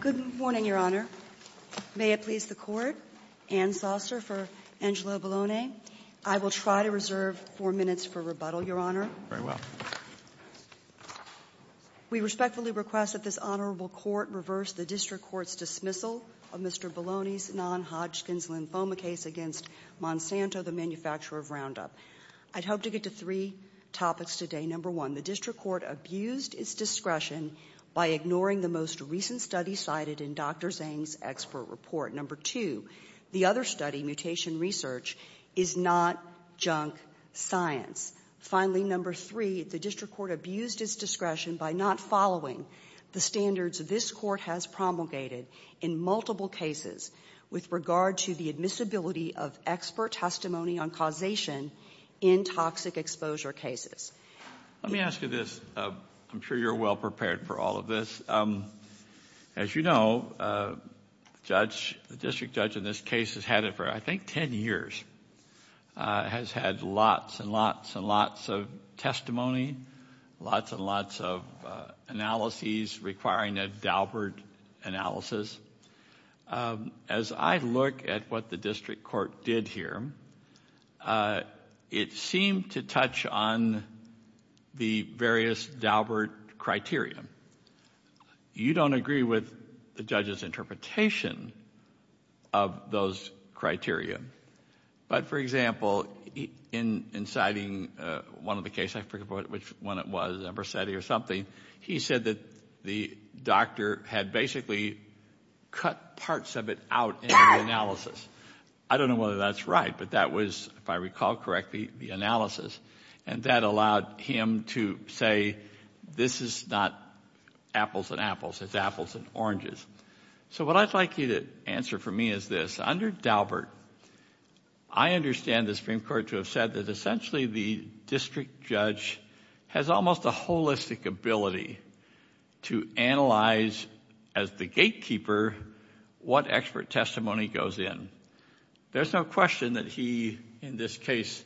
Good morning, Your Honor. May it please the Court, Anne Saucer for Angelo Bologna. I will try to reserve four minutes for rebuttal, Your Honor. Very well. We respectfully request that this Honorable Court reverse the District Court's dismissal of Mr. Bologna's non-Hodgkin's lymphoma case against Monsanto, the manufacturer of Roundup. I'd hope to get to three topics today. Number one, the District Court abused its discretion by ignoring the most recent study cited in Dr. Zhang's expert report. Number two, the other study, mutation research, is not junk science. Finally, number three, the District Court abused its discretion by not following the standards this Court has promulgated in multiple cases with regard to the admissibility of expert testimony on causation in toxic exposure cases. Let me ask you this. I'm sure you're well prepared for all of this. As you know, the District Judge in this case has had it for, I think, ten years. Has had lots and lots and lots of testimony, lots and lots of analyses requiring a Daubert analysis. As I look at what the District Court did here, it seemed to touch on the various Daubert criteria. You don't agree with the judge's interpretation of those criteria. But, for example, in citing one of the cases, I forget which one it was, a Bersetti or something, he said that the doctor had basically cut parts of it out in the analysis. I don't know whether that's right, but that was, if I recall correctly, the analysis. And that allowed him to say, this is not apples and apples, it's apples and oranges. So what I'd like you to answer for me is this. Under Daubert, I understand the Supreme Court to have said that essentially the District Judge has almost a holistic ability to analyze, as the gatekeeper, what expert testimony goes in. There's no question that he, in this case,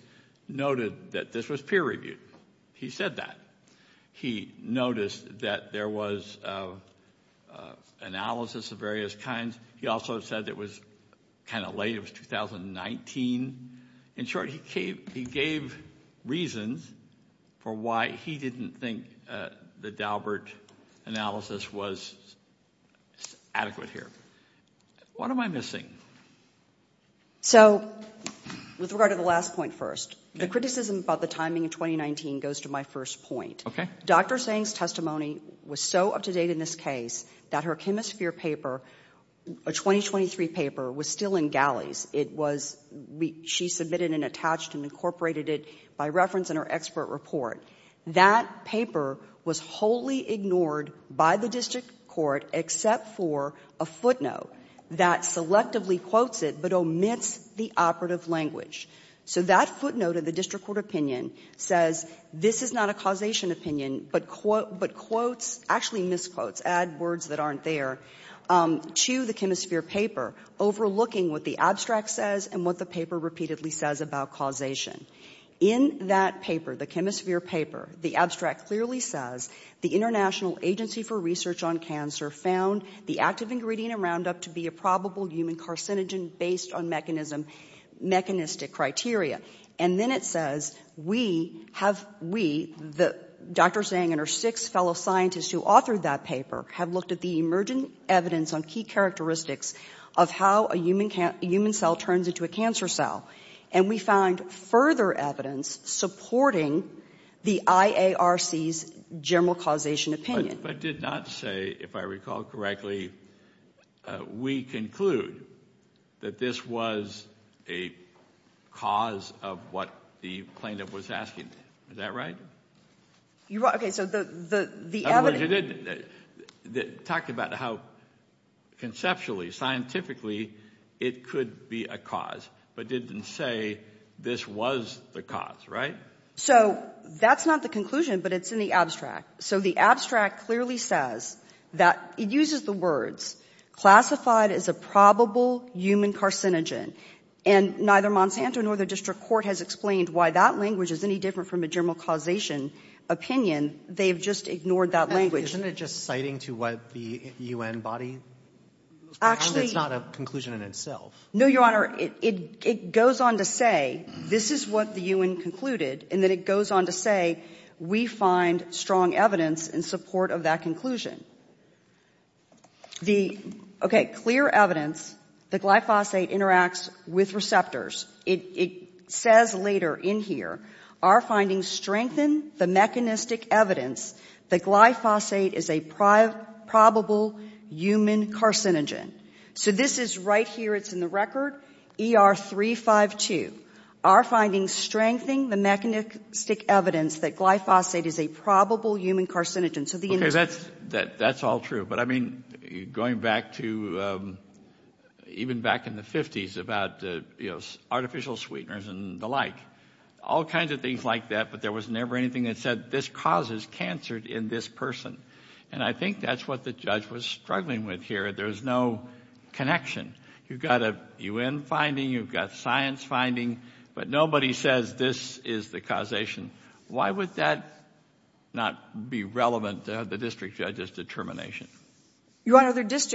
noted that this was peer reviewed. He said that. He noticed that there was analysis of various kinds. He also said it was kind of late, it was 2019. In short, he gave reasons for why he didn't think the Daubert analysis was adequate here. What am I missing? So, with regard to the last point first, the criticism about the timing of 2019 goes to my first point. Dr. Sang's testimony was so up to date in this case that her ChemiSphere paper, a 2023 paper, was still in galleys. It was, she submitted and attached and incorporated it by reference in her expert report. That paper was wholly ignored by the district court except for a footnote that selectively quotes it but omits the operative language. So that footnote of the district court opinion says, this is not a causation opinion, but quotes, actually misquotes, add words that aren't there, to the ChemiSphere paper, overlooking what the abstract says and what the paper repeatedly says about causation. In that paper, the ChemiSphere paper, the abstract clearly says, the International Agency for Research on Cancer found the active ingredient in Roundup to be a probable human carcinogen based on mechanistic criteria. And then it says, we, Dr. Sang and her six fellow scientists who authored that paper, have looked at the emergent evidence on key characteristics of how a human cell turns into a cancer cell. And we found further evidence supporting the IARC's general causation opinion. But did not say, if I recall correctly, we conclude that this was a cause of what the plaintiff was asking. Is that right? You're right. Okay, so the evidence. But you did talk about how conceptually, scientifically, it could be a cause, but didn't say this was the cause, right? So that's not the conclusion, but it's in the abstract. So the abstract clearly says that it uses the words, classified as a probable human carcinogen. And neither Monsanto nor the district court has explained why that language is any different from a general causation opinion. They've just ignored that language. Isn't it just citing to what the U.N. body? Actually. It's not a conclusion in itself. No, Your Honor. It goes on to say, this is what the U.N. concluded, and then it goes on to say, we find strong evidence in support of that conclusion. Okay, clear evidence that glyphosate interacts with receptors. It says later in here, our findings strengthen the mechanistic evidence that glyphosate is a probable human carcinogen. So this is right here. It's in the record, ER352. Our findings strengthen the mechanistic evidence that glyphosate is a probable human carcinogen. Okay, that's all true. But, I mean, going back to even back in the 50s about artificial sweeteners and the like. All kinds of things like that, but there was never anything that said this causes cancer in this person. And I think that's what the judge was struggling with here. There's no connection. You've got a U.N. finding. You've got science finding. But nobody says this is the causation. Why would that not be relevant to the district judge's determination? Your Honor, this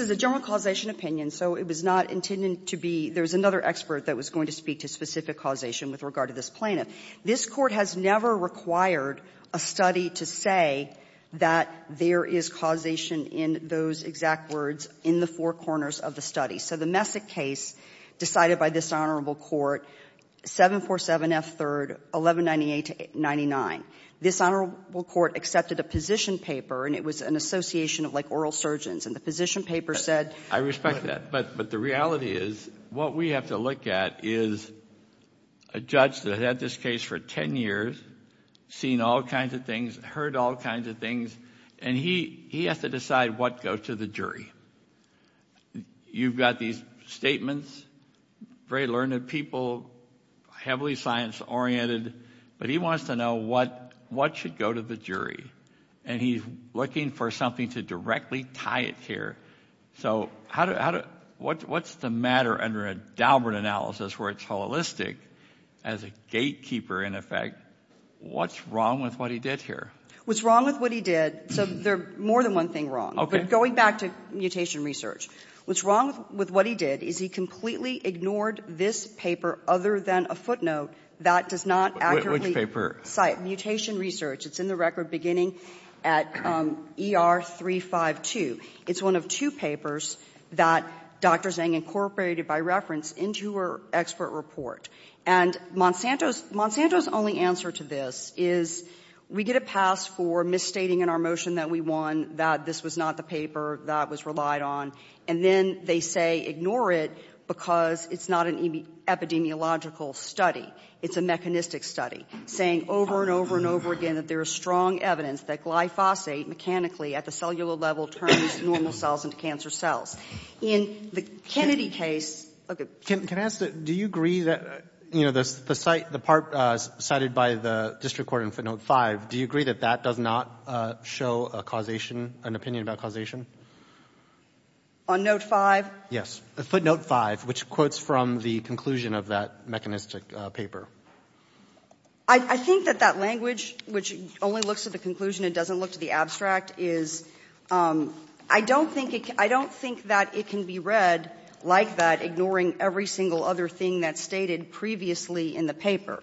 is a general causation opinion, so it was not intended to be. There was another expert that was going to speak to specific causation with regard to this plaintiff. This Court has never required a study to say that there is causation in those exact words in the four corners of the study. So the Messick case decided by this Honorable Court, 747F 3rd, 1198-99. This Honorable Court accepted a position paper, and it was an association of like oral surgeons. And the position paper said- I respect that. But the reality is what we have to look at is a judge that had this case for ten years, seen all kinds of things, heard all kinds of things, and he has to decide what goes to the jury. You've got these statements, very learned people, heavily science-oriented, but he wants to know what should go to the jury. And he's looking for something to directly tie it here. So what's the matter under a Daubert analysis where it's holistic as a gatekeeper, in effect? What's wrong with what he did here? What's wrong with what he did? So there's more than one thing wrong. But going back to mutation research, what's wrong with what he did is he completely ignored this paper other than a footnote that does not accurately cite mutation research. It's in the record beginning at ER 352. It's one of two papers that Dr. Zhang incorporated by reference into her expert report. And Monsanto's only answer to this is we get a pass for misstating in our motion that we won, that this was not the paper that was relied on, and then they say ignore it because it's not an epidemiological study. It's a mechanistic study, saying over and over and over again that there is strong evidence that glyphosate mechanically at the cellular level turns normal cells into cancer cells. In the Kennedy case — Can I ask, do you agree that, you know, the part cited by the district court in footnote 5, do you agree that that does not show a causation, an opinion about causation? On note 5? Yes. Footnote 5, which quotes from the conclusion of that mechanistic paper. I think that that language, which only looks at the conclusion, it doesn't look to the abstract, is — I don't think it can — I don't think that it can be read like that, ignoring every single other thing that's stated previously in the paper.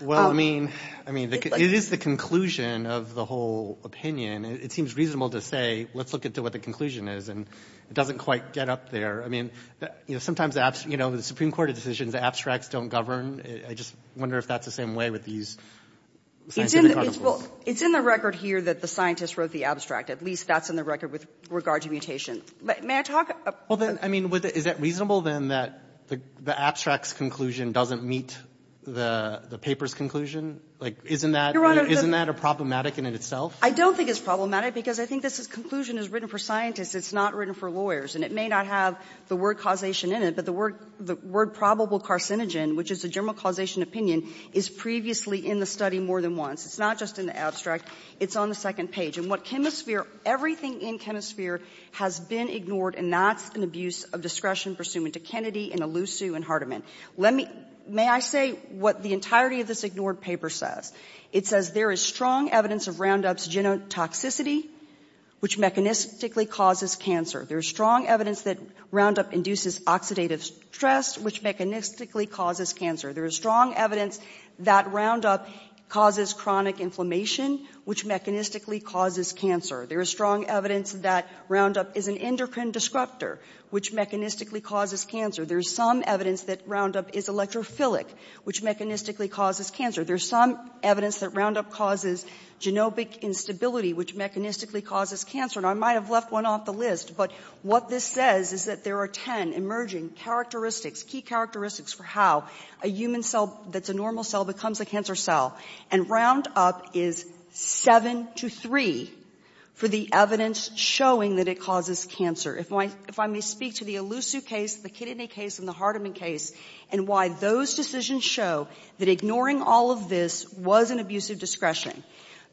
Well, I mean — I mean, it is the conclusion of the whole opinion. It seems reasonable to say, let's look at what the conclusion is, and it doesn't quite get up there. I mean, sometimes, you know, the Supreme Court decisions, the abstracts don't govern. I just wonder if that's the same way with these scientific articles. Well, it's in the record here that the scientists wrote the abstract. At least that's in the record with regard to mutation. May I talk — Well, then, I mean, is it reasonable, then, that the abstract's conclusion doesn't meet the paper's conclusion? Like, isn't that — Your Honor, the — Isn't that problematic in itself? I don't think it's problematic because I think this conclusion is written for scientists. It's not written for lawyers. And it may not have the word causation in it, but the word probable carcinogen, which is the general causation opinion, is previously in the study more than once. It's not just in the abstract. It's on the second page. And what chemistry — everything in chemistry has been ignored, and that's an abuse of discretion pursuant to Kennedy and Elusu and Hardiman. Let me — may I say what the entirety of this ignored paper says? It says there is strong evidence of Roundup's genotoxicity, which mechanistically causes cancer. There is strong evidence that Roundup induces oxidative stress, which mechanistically causes cancer. There is strong evidence that Roundup causes chronic inflammation, which mechanistically causes cancer. There is strong evidence that Roundup is an endocrine disruptor, which mechanistically causes cancer. There is some evidence that Roundup is electrophilic, which mechanistically causes cancer. There is some evidence that Roundup causes genomic instability, which mechanistically causes cancer. And I might have left one off the list, but what this says is that there are 10 emerging characteristics, key characteristics for how a human cell that's a normal cell becomes a cancer cell. And Roundup is 7 to 3 for the evidence showing that it causes cancer. If I may speak to the Elusu case, the Kennedy case, and the Hardiman case, and why those decisions show that ignoring all of this was an abuse of discretion.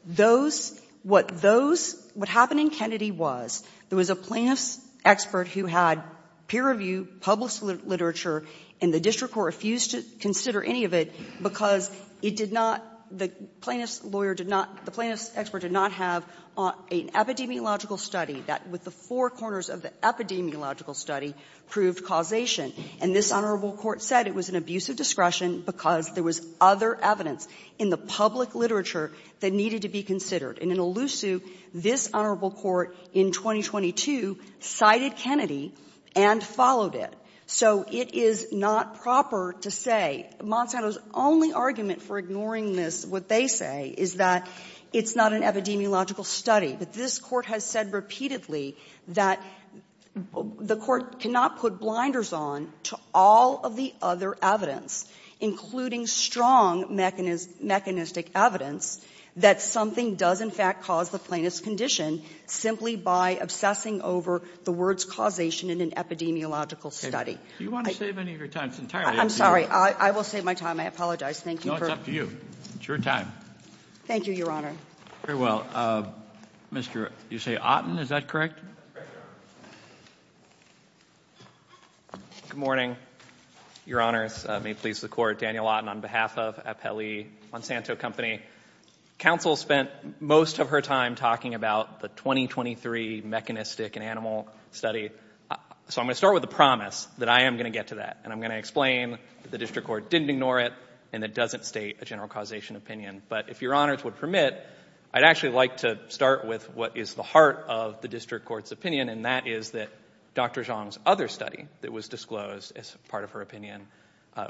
Those — what those — what happened in Kennedy was there was a plaintiff's expert who had peer review, published literature, and the district court refused to consider any of it because it did not — the plaintiff's lawyer did not — the plaintiff's expert did not have an epidemiological study that, with the four corners of the epidemiological study, proved causation. And this honorable court said it was an abuse of discretion because there was other evidence in the public literature that needed to be considered. And in Elusu, this honorable court in 2022 cited Kennedy and followed it. So it is not proper to say — Monsanto's only argument for ignoring this, what they say, is that it's not an epidemiological study. But this Court has said repeatedly that the Court cannot put blinders on to all of the other evidence, including strong mechanistic evidence, that something does in fact cause the plaintiff's condition simply by obsessing over the words causation in an epidemiological study. Do you want to save any of your time? It's entirely up to you. I'm sorry. I will save my time. I apologize. Thank you for — No, it's up to you. It's your time. Thank you, Your Honor. Very well. Mr. — you say Otten? Is that correct? That's correct, Your Honor. Good morning, Your Honors. May it please the Court. Daniel Otten on behalf of Appelli Monsanto Company. Counsel spent most of her time talking about the 2023 mechanistic and animal study. So I'm going to start with a promise that I am going to get to that, and I'm going to explain that the District Court didn't ignore it, and it doesn't state a general causation opinion. But if Your Honors would permit, I'd actually like to start with what is the heart of the District Court's opinion, and that is that Dr. Zhang's other study that was disclosed as part of her opinion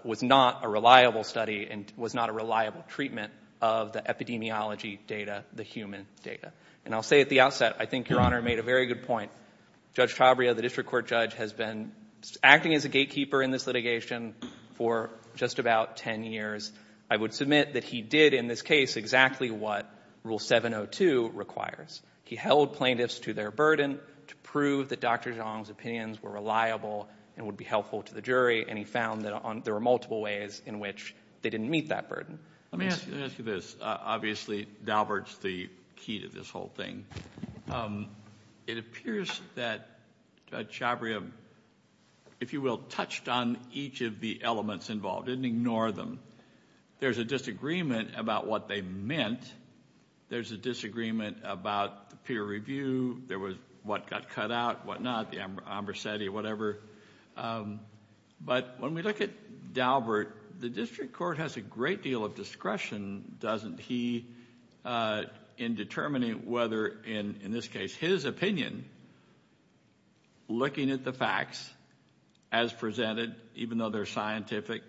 was not a reliable study and was not a reliable treatment of the epidemiology data, the human data. And I'll say at the outset, I think Your Honor made a very good point. Judge Tabria, the District Court judge, has been acting as a gatekeeper in this litigation for just about 10 years. I would submit that he did in this case exactly what Rule 702 requires. He held plaintiffs to their burden to prove that Dr. Zhang's opinions were reliable and would be helpful to the jury, and he found that there were multiple ways in which they didn't meet that burden. Let me ask you this. Obviously, Daubert's the key to this whole thing. It appears that Judge Tabria, if you will, touched on each of the elements involved, didn't ignore them. There's a disagreement about what they meant. There's a disagreement about the peer review. There was what got cut out, what not, the Ambrosetti, whatever. But when we look at Daubert, the District Court has a great deal of discretion, doesn't he, in determining whether, in this case, his opinion, looking at the facts as presented, even though they're scientific,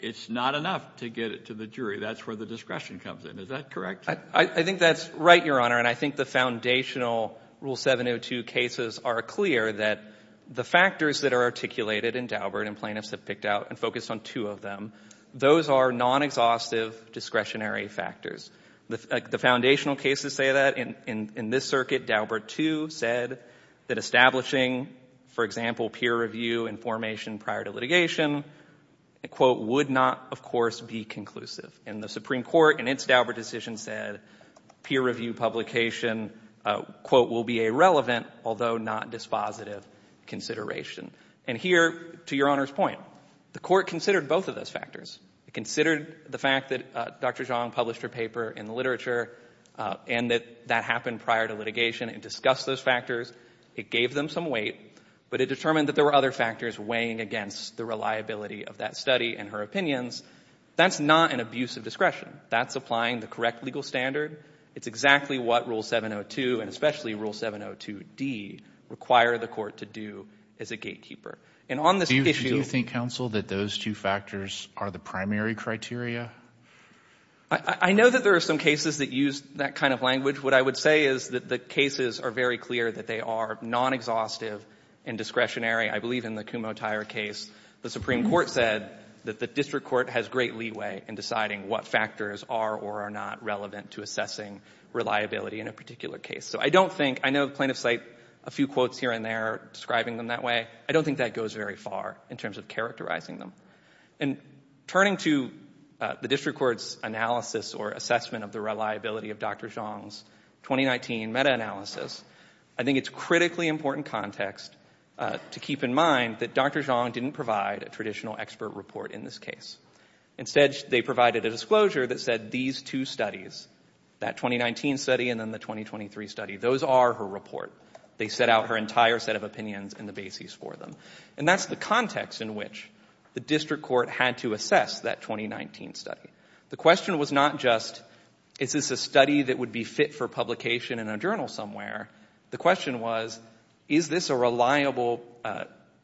it's not enough to get it to the jury. That's where the discretion comes in. Is that correct? I think that's right, Your Honor, and I think the foundational Rule 702 cases are clear that the factors that are articulated in Daubert and plaintiffs have picked out and focused on two of them, those are non-exhaustive discretionary factors. The foundational cases say that. In this circuit, Daubert, too, said that establishing, for example, peer review information prior to litigation, quote, would not, of course, be conclusive. And the Supreme Court, in its Daubert decision, said peer review publication, quote, will be a relevant, although not dispositive, consideration. And here, to Your Honor's point, the Court considered both of those factors. It considered the fact that Dr. Zhang published her paper in the literature and that that happened prior to litigation and discussed those factors. It gave them some weight, but it determined that there were other factors weighing against the reliability of that study and her opinions. That's not an abuse of discretion. That's applying the correct legal standard. It's exactly what Rule 702 and especially Rule 702D require the court to do as a gatekeeper. And on this issue— Do you think, counsel, that those two factors are the primary criteria? I know that there are some cases that use that kind of language. What I would say is that the cases are very clear that they are non-exhaustive and discretionary. I believe in the Kumotaira case, the Supreme Court said that the district court has great leeway in deciding what factors are or are not relevant to assessing reliability in a particular case. So I don't think—I know plaintiffs cite a few quotes here and there describing them that way. I don't think that goes very far in terms of characterizing them. And turning to the district court's analysis or assessment of the reliability of Dr. Zhang's 2019 meta-analysis, I think it's critically important context to keep in mind that Dr. Zhang didn't provide a traditional expert report in this case. Instead, they provided a disclosure that said these two studies, that 2019 study and then the 2023 study, those are her report. They set out her entire set of opinions and the bases for them. And that's the context in which the district court had to assess that 2019 study. The question was not just, is this a study that would be fit for publication in a journal somewhere? The question was, is this a reliable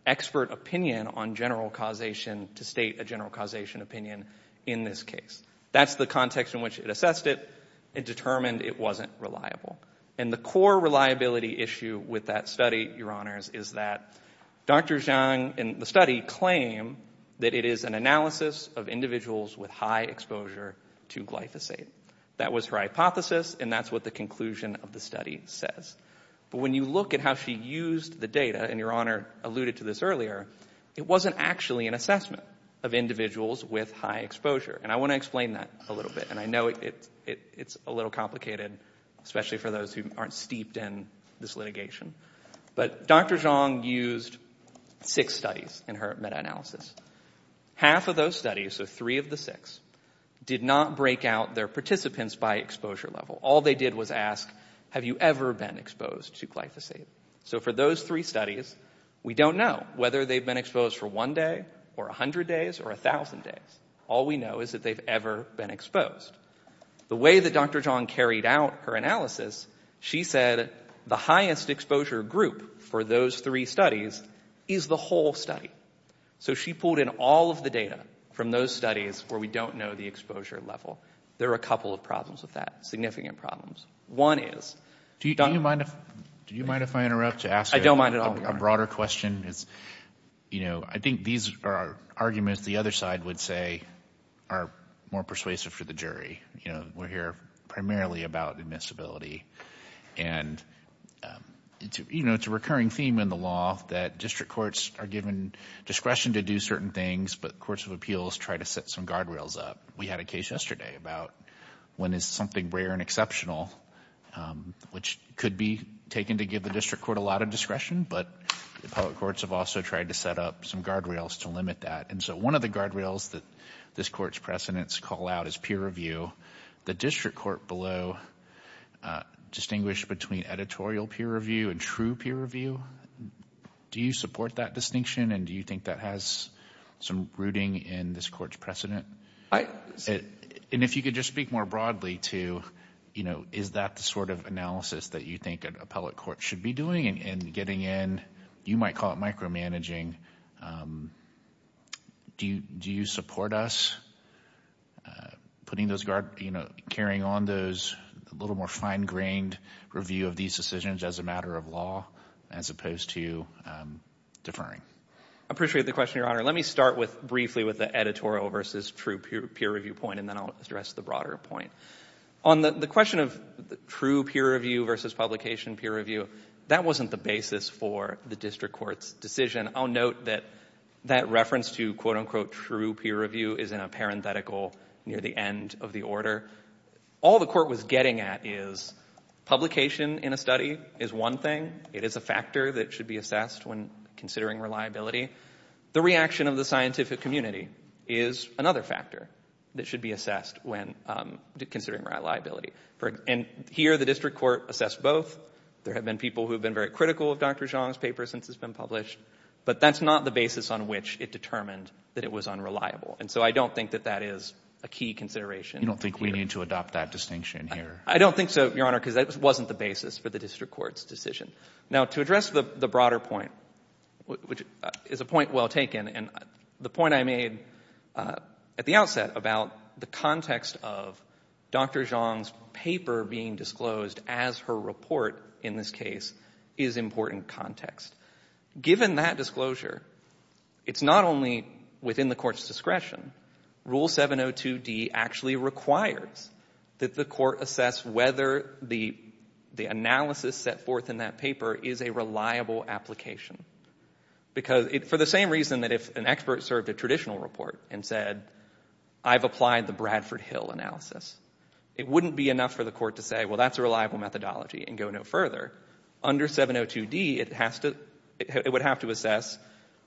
expert opinion on general causation to state a general causation opinion in this case? That's the context in which it assessed it. It determined it wasn't reliable. And the core reliability issue with that study, Your Honors, is that Dr. Zhang in the study claimed that it is an analysis of individuals with high exposure to glyphosate. That was her hypothesis, and that's what the conclusion of the study says. But when you look at how she used the data, and Your Honor alluded to this earlier, it wasn't actually an assessment of individuals with high exposure. And I want to explain that a little bit. And I know it's a little complicated, especially for those who aren't steeped in this litigation. But Dr. Zhang used six studies in her meta-analysis. Half of those studies, so three of the six, did not break out their participants by exposure level. All they did was ask, have you ever been exposed to glyphosate? So for those three studies, we don't know whether they've been exposed for one day, or 100 days, or 1,000 days. All we know is that they've ever been exposed. The way that Dr. Zhang carried out her analysis, she said the highest exposure group for those three studies is the whole study. So she pulled in all of the data from those studies where we don't know the exposure level. There are a couple of problems with that, significant problems. Do you mind if I interrupt to ask a broader question? You know, I think these are arguments the other side would say are more persuasive for the jury. You know, we're here primarily about admissibility. And, you know, it's a recurring theme in the law that district courts are given discretion to do certain things, but courts of appeals try to set some guardrails up. We had a case yesterday about when it's something rare and exceptional, which could be taken to give the district court a lot of discretion, but the public courts have also tried to set up some guardrails to limit that. And so one of the guardrails that this court's precedents call out is peer review. The district court below distinguished between editorial peer review and true peer review. Do you support that distinction, and do you think that has some rooting in this court's precedent? And if you could just speak more broadly to, you know, is that the sort of analysis that you think an appellate court should be doing in getting in? You might call it micromanaging. Do you support us putting those guardrails, you know, carrying on those a little more fine-grained review of these decisions as a matter of law as opposed to deferring? I appreciate the question, Your Honor. Let me start briefly with the editorial versus true peer review point, and then I'll address the broader point. On the question of true peer review versus publication peer review, that wasn't the basis for the district court's decision. I'll note that that reference to, quote-unquote, true peer review is in a parenthetical near the end of the order. All the court was getting at is publication in a study is one thing. It is a factor that should be assessed when considering reliability. The reaction of the scientific community is another factor that should be assessed when considering reliability. And here the district court assessed both. There have been people who have been very critical of Dr. Zhang's paper since it's been published, but that's not the basis on which it determined that it was unreliable. And so I don't think that that is a key consideration. You don't think we need to adopt that distinction here? I don't think so, Your Honor, because that wasn't the basis for the district court's decision. Now, to address the broader point, which is a point well taken, and the point I made at the outset about the context of Dr. Zhang's paper being disclosed as her report in this case is important context. Given that disclosure, it's not only within the court's discretion. Rule 702D actually requires that the court assess whether the analysis set forth in that paper is a reliable application. Because for the same reason that if an expert served a traditional report and said, I've applied the Bradford Hill analysis, it wouldn't be enough for the court to say, well, that's a reliable methodology and go no further. Under 702D, it would have to assess,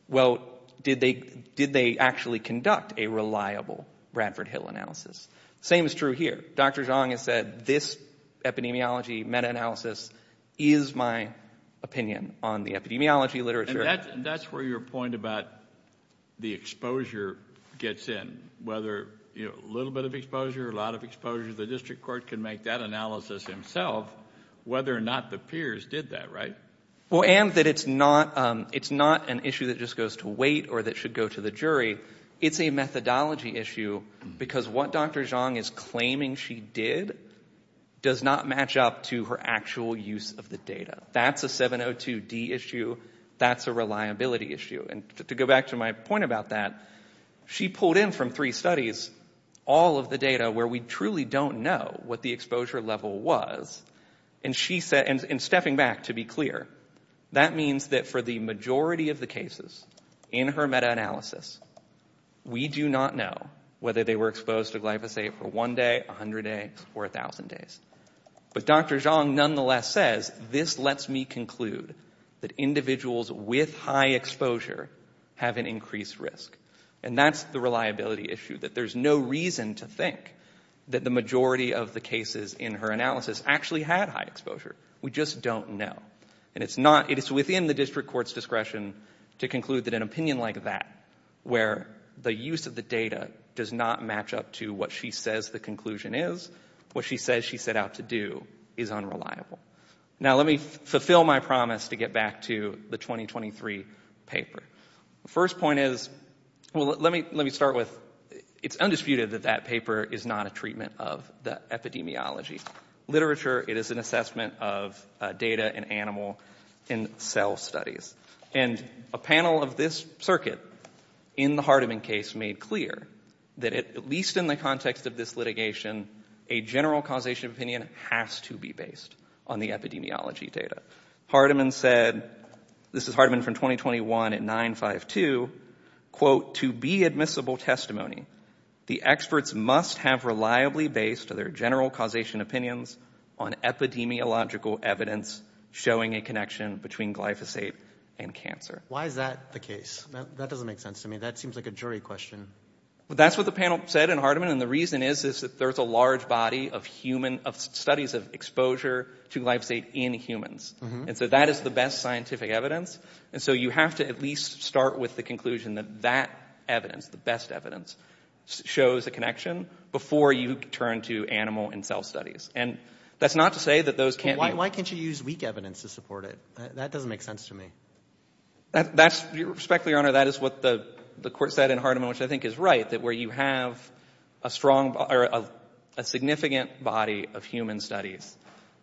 well, did they actually conduct a reliable Bradford Hill analysis? Same is true here. Dr. Zhang has said this epidemiology meta-analysis is my opinion on the epidemiology literature. And that's where your point about the exposure gets in. Whether a little bit of exposure or a lot of exposure, the district court can make that analysis himself, whether or not the peers did that, right? Well, and that it's not an issue that just goes to weight or that should go to the jury. It's a methodology issue because what Dr. Zhang is claiming she did does not match up to her actual use of the data. That's a 702D issue. That's a reliability issue. And to go back to my point about that, she pulled in from three studies all of the data where we truly don't know what the exposure level was. And stepping back, to be clear, that means that for the majority of the cases in her meta-analysis, we do not know whether they were exposed to glyphosate for one day, 100 days, or 1,000 days. But Dr. Zhang nonetheless says, this lets me conclude that individuals with high exposure have an increased risk. And that's the reliability issue, that there's no reason to think that the majority of the cases in her analysis actually had high exposure. We just don't know. And it's within the district court's discretion to conclude that an opinion like that, where the use of the data does not match up to what she says the conclusion is, what she says she set out to do is unreliable. Now, let me fulfill my promise to get back to the 2023 paper. The first point is, well, let me start with, it's undisputed that that paper is not a treatment of the epidemiology. Literature, it is an assessment of data in animal and cell studies. And a panel of this circuit in the Hardeman case made clear that at least in the context of this litigation, a general causation opinion has to be based on the epidemiology data. Hardeman said, this is Hardeman from 2021 at 952, quote, to be admissible testimony, the experts must have reliably based their general causation opinions on epidemiological evidence showing a connection between glyphosate and cancer. Why is that the case? That doesn't make sense to me. That seems like a jury question. That's what the panel said in Hardeman. And the reason is that there's a large body of studies of exposure to glyphosate in humans. And so that is the best scientific evidence. And so you have to at least start with the conclusion that that evidence, the best evidence, shows a connection before you turn to animal and cell studies. And that's not to say that those can't be. Why can't you use weak evidence to support it? That doesn't make sense to me. Respectfully, Your Honor, that is what the court said in Hardeman, which I think is right, that where you have a strong or a significant body of human studies,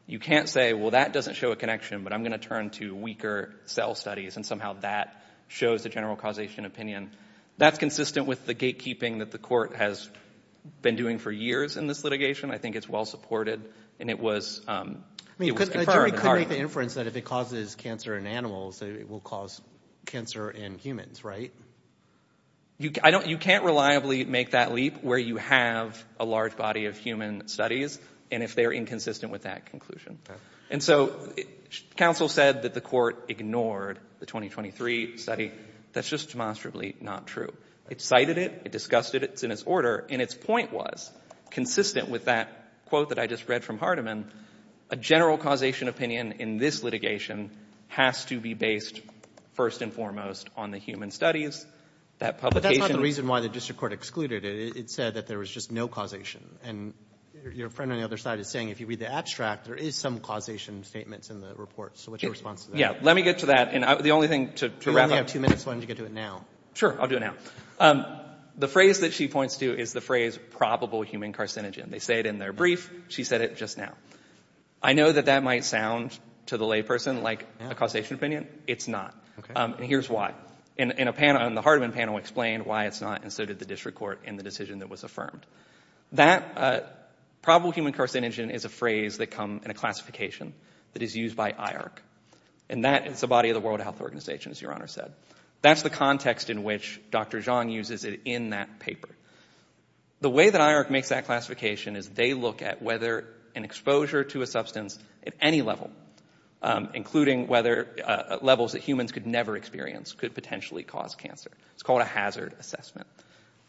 you can't say, well, that doesn't show a connection, but I'm going to turn to weaker cell studies. And somehow that shows the general causation opinion. That's consistent with the gatekeeping that the court has been doing for years in this litigation. I think it's well-supported, and it was confirmed in Hardeman. I mean, the jury could make the inference that if it causes cancer in animals, it will cause cancer in humans, right? You can't reliably make that leap where you have a large body of human studies and if they're inconsistent with that conclusion. And so counsel said that the court ignored the 2023 study. That's just demonstrably not true. It cited it. It discussed it. It's in its order. And its point was, consistent with that quote that I just read from Hardeman, a general causation opinion in this litigation has to be based first and foremost on the human studies, that publication. But that's not the reason why the district court excluded it. It said that there was just no causation. And your friend on the other side is saying if you read the abstract, there is some causation statements in the report. So what's your response to that? Yeah. Let me get to that. And the only thing to wrap up — You only have two minutes. Why don't you get to it now? Sure. I'll do it now. The phrase that she points to is the phrase probable human carcinogen. They say it in their brief. She said it just now. I know that that might sound to the layperson like a causation opinion. It's not. And here's why. And the Hardeman panel explained why it's not, and so did the district court in the decision that was affirmed. That probable human carcinogen is a phrase that comes in a classification that is used by IARC. And that is the body of the World Health Organization, as Your Honor said. That's the context in which Dr. Zhang uses it in that paper. The way that IARC makes that classification is they look at whether an exposure to a substance at any level, including levels that humans could never experience, could potentially cause cancer. It's called a hazard assessment.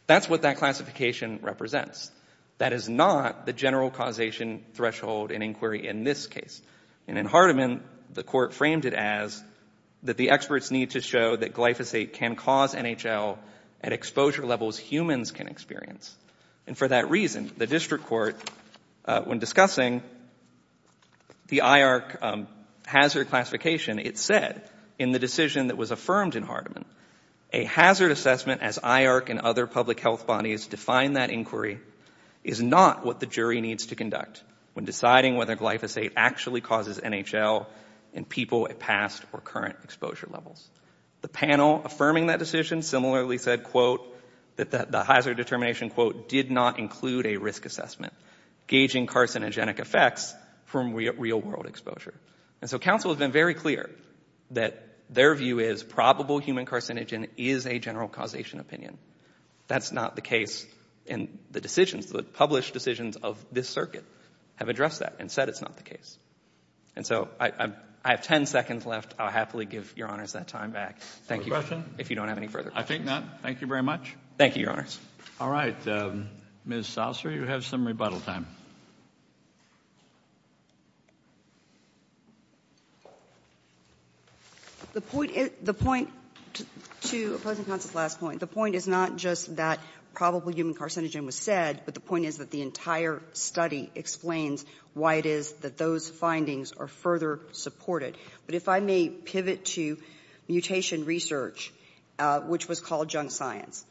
That's what that classification represents. That is not the general causation threshold in inquiry in this case. And in Hardeman, the court framed it as that the experts need to show that glyphosate can cause NHL at exposure levels humans can experience. And for that reason, the district court, when discussing the IARC hazard classification, it said in the decision that was affirmed in Hardeman, a hazard assessment, as IARC and other public health bodies define that inquiry, is not what the jury needs to conduct when deciding whether glyphosate actually causes NHL in people at past or current exposure levels. The panel affirming that decision similarly said, quote, that the hazard determination, quote, did not include a risk assessment, gauging carcinogenic effects from real-world exposure. And so counsel has been very clear that their view is probable human carcinogen is a general causation opinion. That's not the case in the decisions, the published decisions of this circuit have addressed that and said it's not the case. And so I have 10 seconds left. I'll happily give Your Honors that time back. Thank you. If you don't have any further questions. I think not. Thank you very much. Thank you, Your Honors. All right. Ms. Souser, you have some rebuttal time. The point to opposing counsel's last point, the point is not just that probable human carcinogen was said, but the point is that the entire study explains why it is that those findings are further supported. But if I may pivot to mutation research, which was called junk science.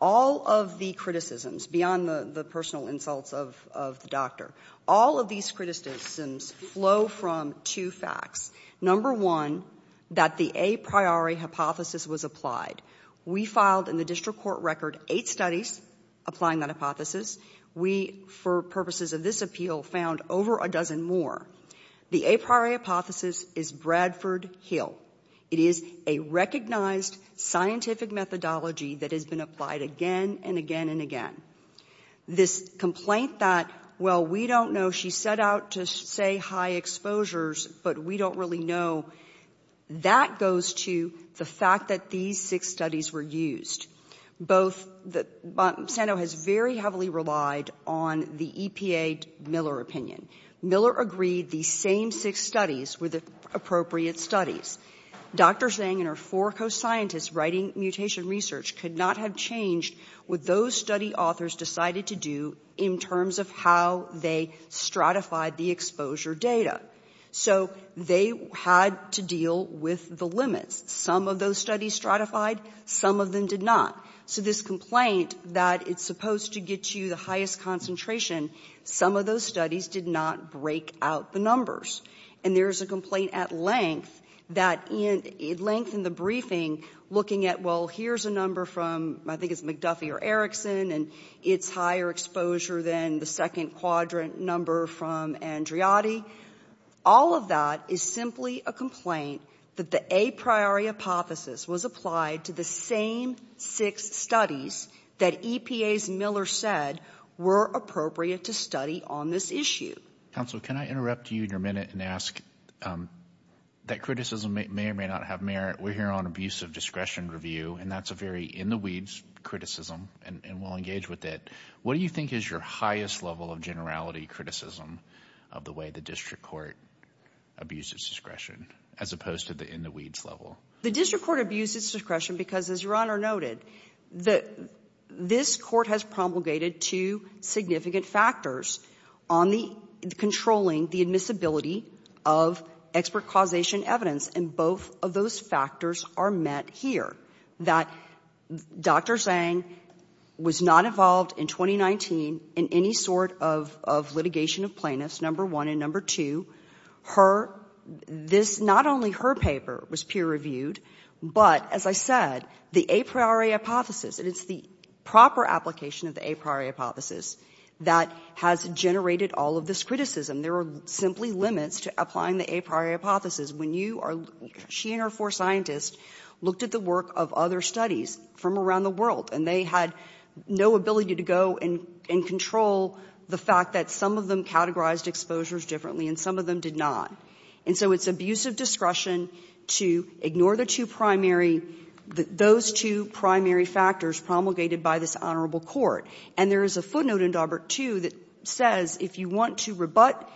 All of the criticisms, beyond the personal insults of the doctor, all of these criticisms flow from two facts. Number one, that the a priori hypothesis was applied. We filed in the district court record eight studies applying that hypothesis. We, for purposes of this appeal, found over a dozen more. The a priori hypothesis is Bradford Hill. It is a recognized scientific methodology that has been applied again and again and again. This complaint that, well, we don't know, she set out to say high exposures, but we don't really know, that goes to the fact that these six studies were used. Both, Sano has very heavily relied on the EPA Miller opinion. Miller agreed these same six studies were the appropriate studies. Dr. Zhang and her four co-scientists writing mutation research could not have changed what those study authors decided to do in terms of how they stratified the exposure data. So they had to deal with the limits. Some of those studies stratified, some of them did not. So this complaint that it's supposed to get you the highest concentration, some of those studies did not break out the numbers. And there's a complaint at length that, at length in the briefing, looking at, well, here's a number from, I think it's McDuffie or Erickson, and it's higher exposure than the second quadrant number from Andriotti. All of that is simply a complaint that the a priori hypothesis was applied to the same six studies that EPA's Miller said were appropriate to study on this issue. Counsel, can I interrupt you in your minute and ask, that criticism may or may not have merit. We're here on abusive discretion review, and that's a very in-the-weeds criticism, and we'll engage with it. What do you think is your highest level of generality criticism of the way the district court abuses discretion, as opposed to the in-the-weeds level? The district court abuses discretion because, as Your Honor noted, this court has promulgated two significant factors on controlling the admissibility of expert causation evidence, and both of those factors are met here, that Dr. Zhang was not involved in 2019 in any sort of litigation of plaintiffs, number one, and number two. Her, this, not only her paper was peer-reviewed, but, as I said, the a priori hypothesis, and it's the proper application of the a priori hypothesis that has generated all of this criticism. There are simply limits to applying the a priori hypothesis. When you are, she and her four scientists looked at the work of other studies from around the world, and they had no ability to go and control the fact that some of them categorized exposures differently and some of them did not. And so it's abuse of discretion to ignore the two primary, those two primary factors promulgated by this honorable court. And there is a footnote in Daubert, too, that says if you want to rebut,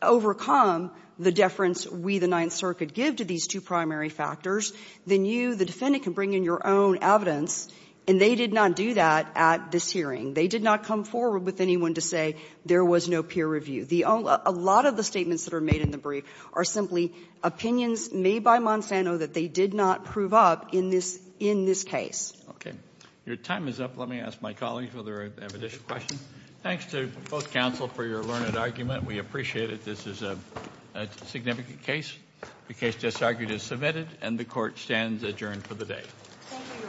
overcome the deference we, the Ninth Circuit, give to these two primary factors, then you, the defendant, can bring in your own evidence, and they did not do that at this hearing. They did not come forward with anyone to say there was no peer review. A lot of the statements that are made in the brief are simply opinions made by Monsanto that they did not prove up in this case. Okay. Your time is up. Let me ask my colleagues whether they have additional questions. Thanks to both counsel for your learned argument. We appreciate it. This is a significant case. The case just argued is submitted, and the Court stands adjourned for the day. Thank you, Your Honor.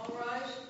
All rise.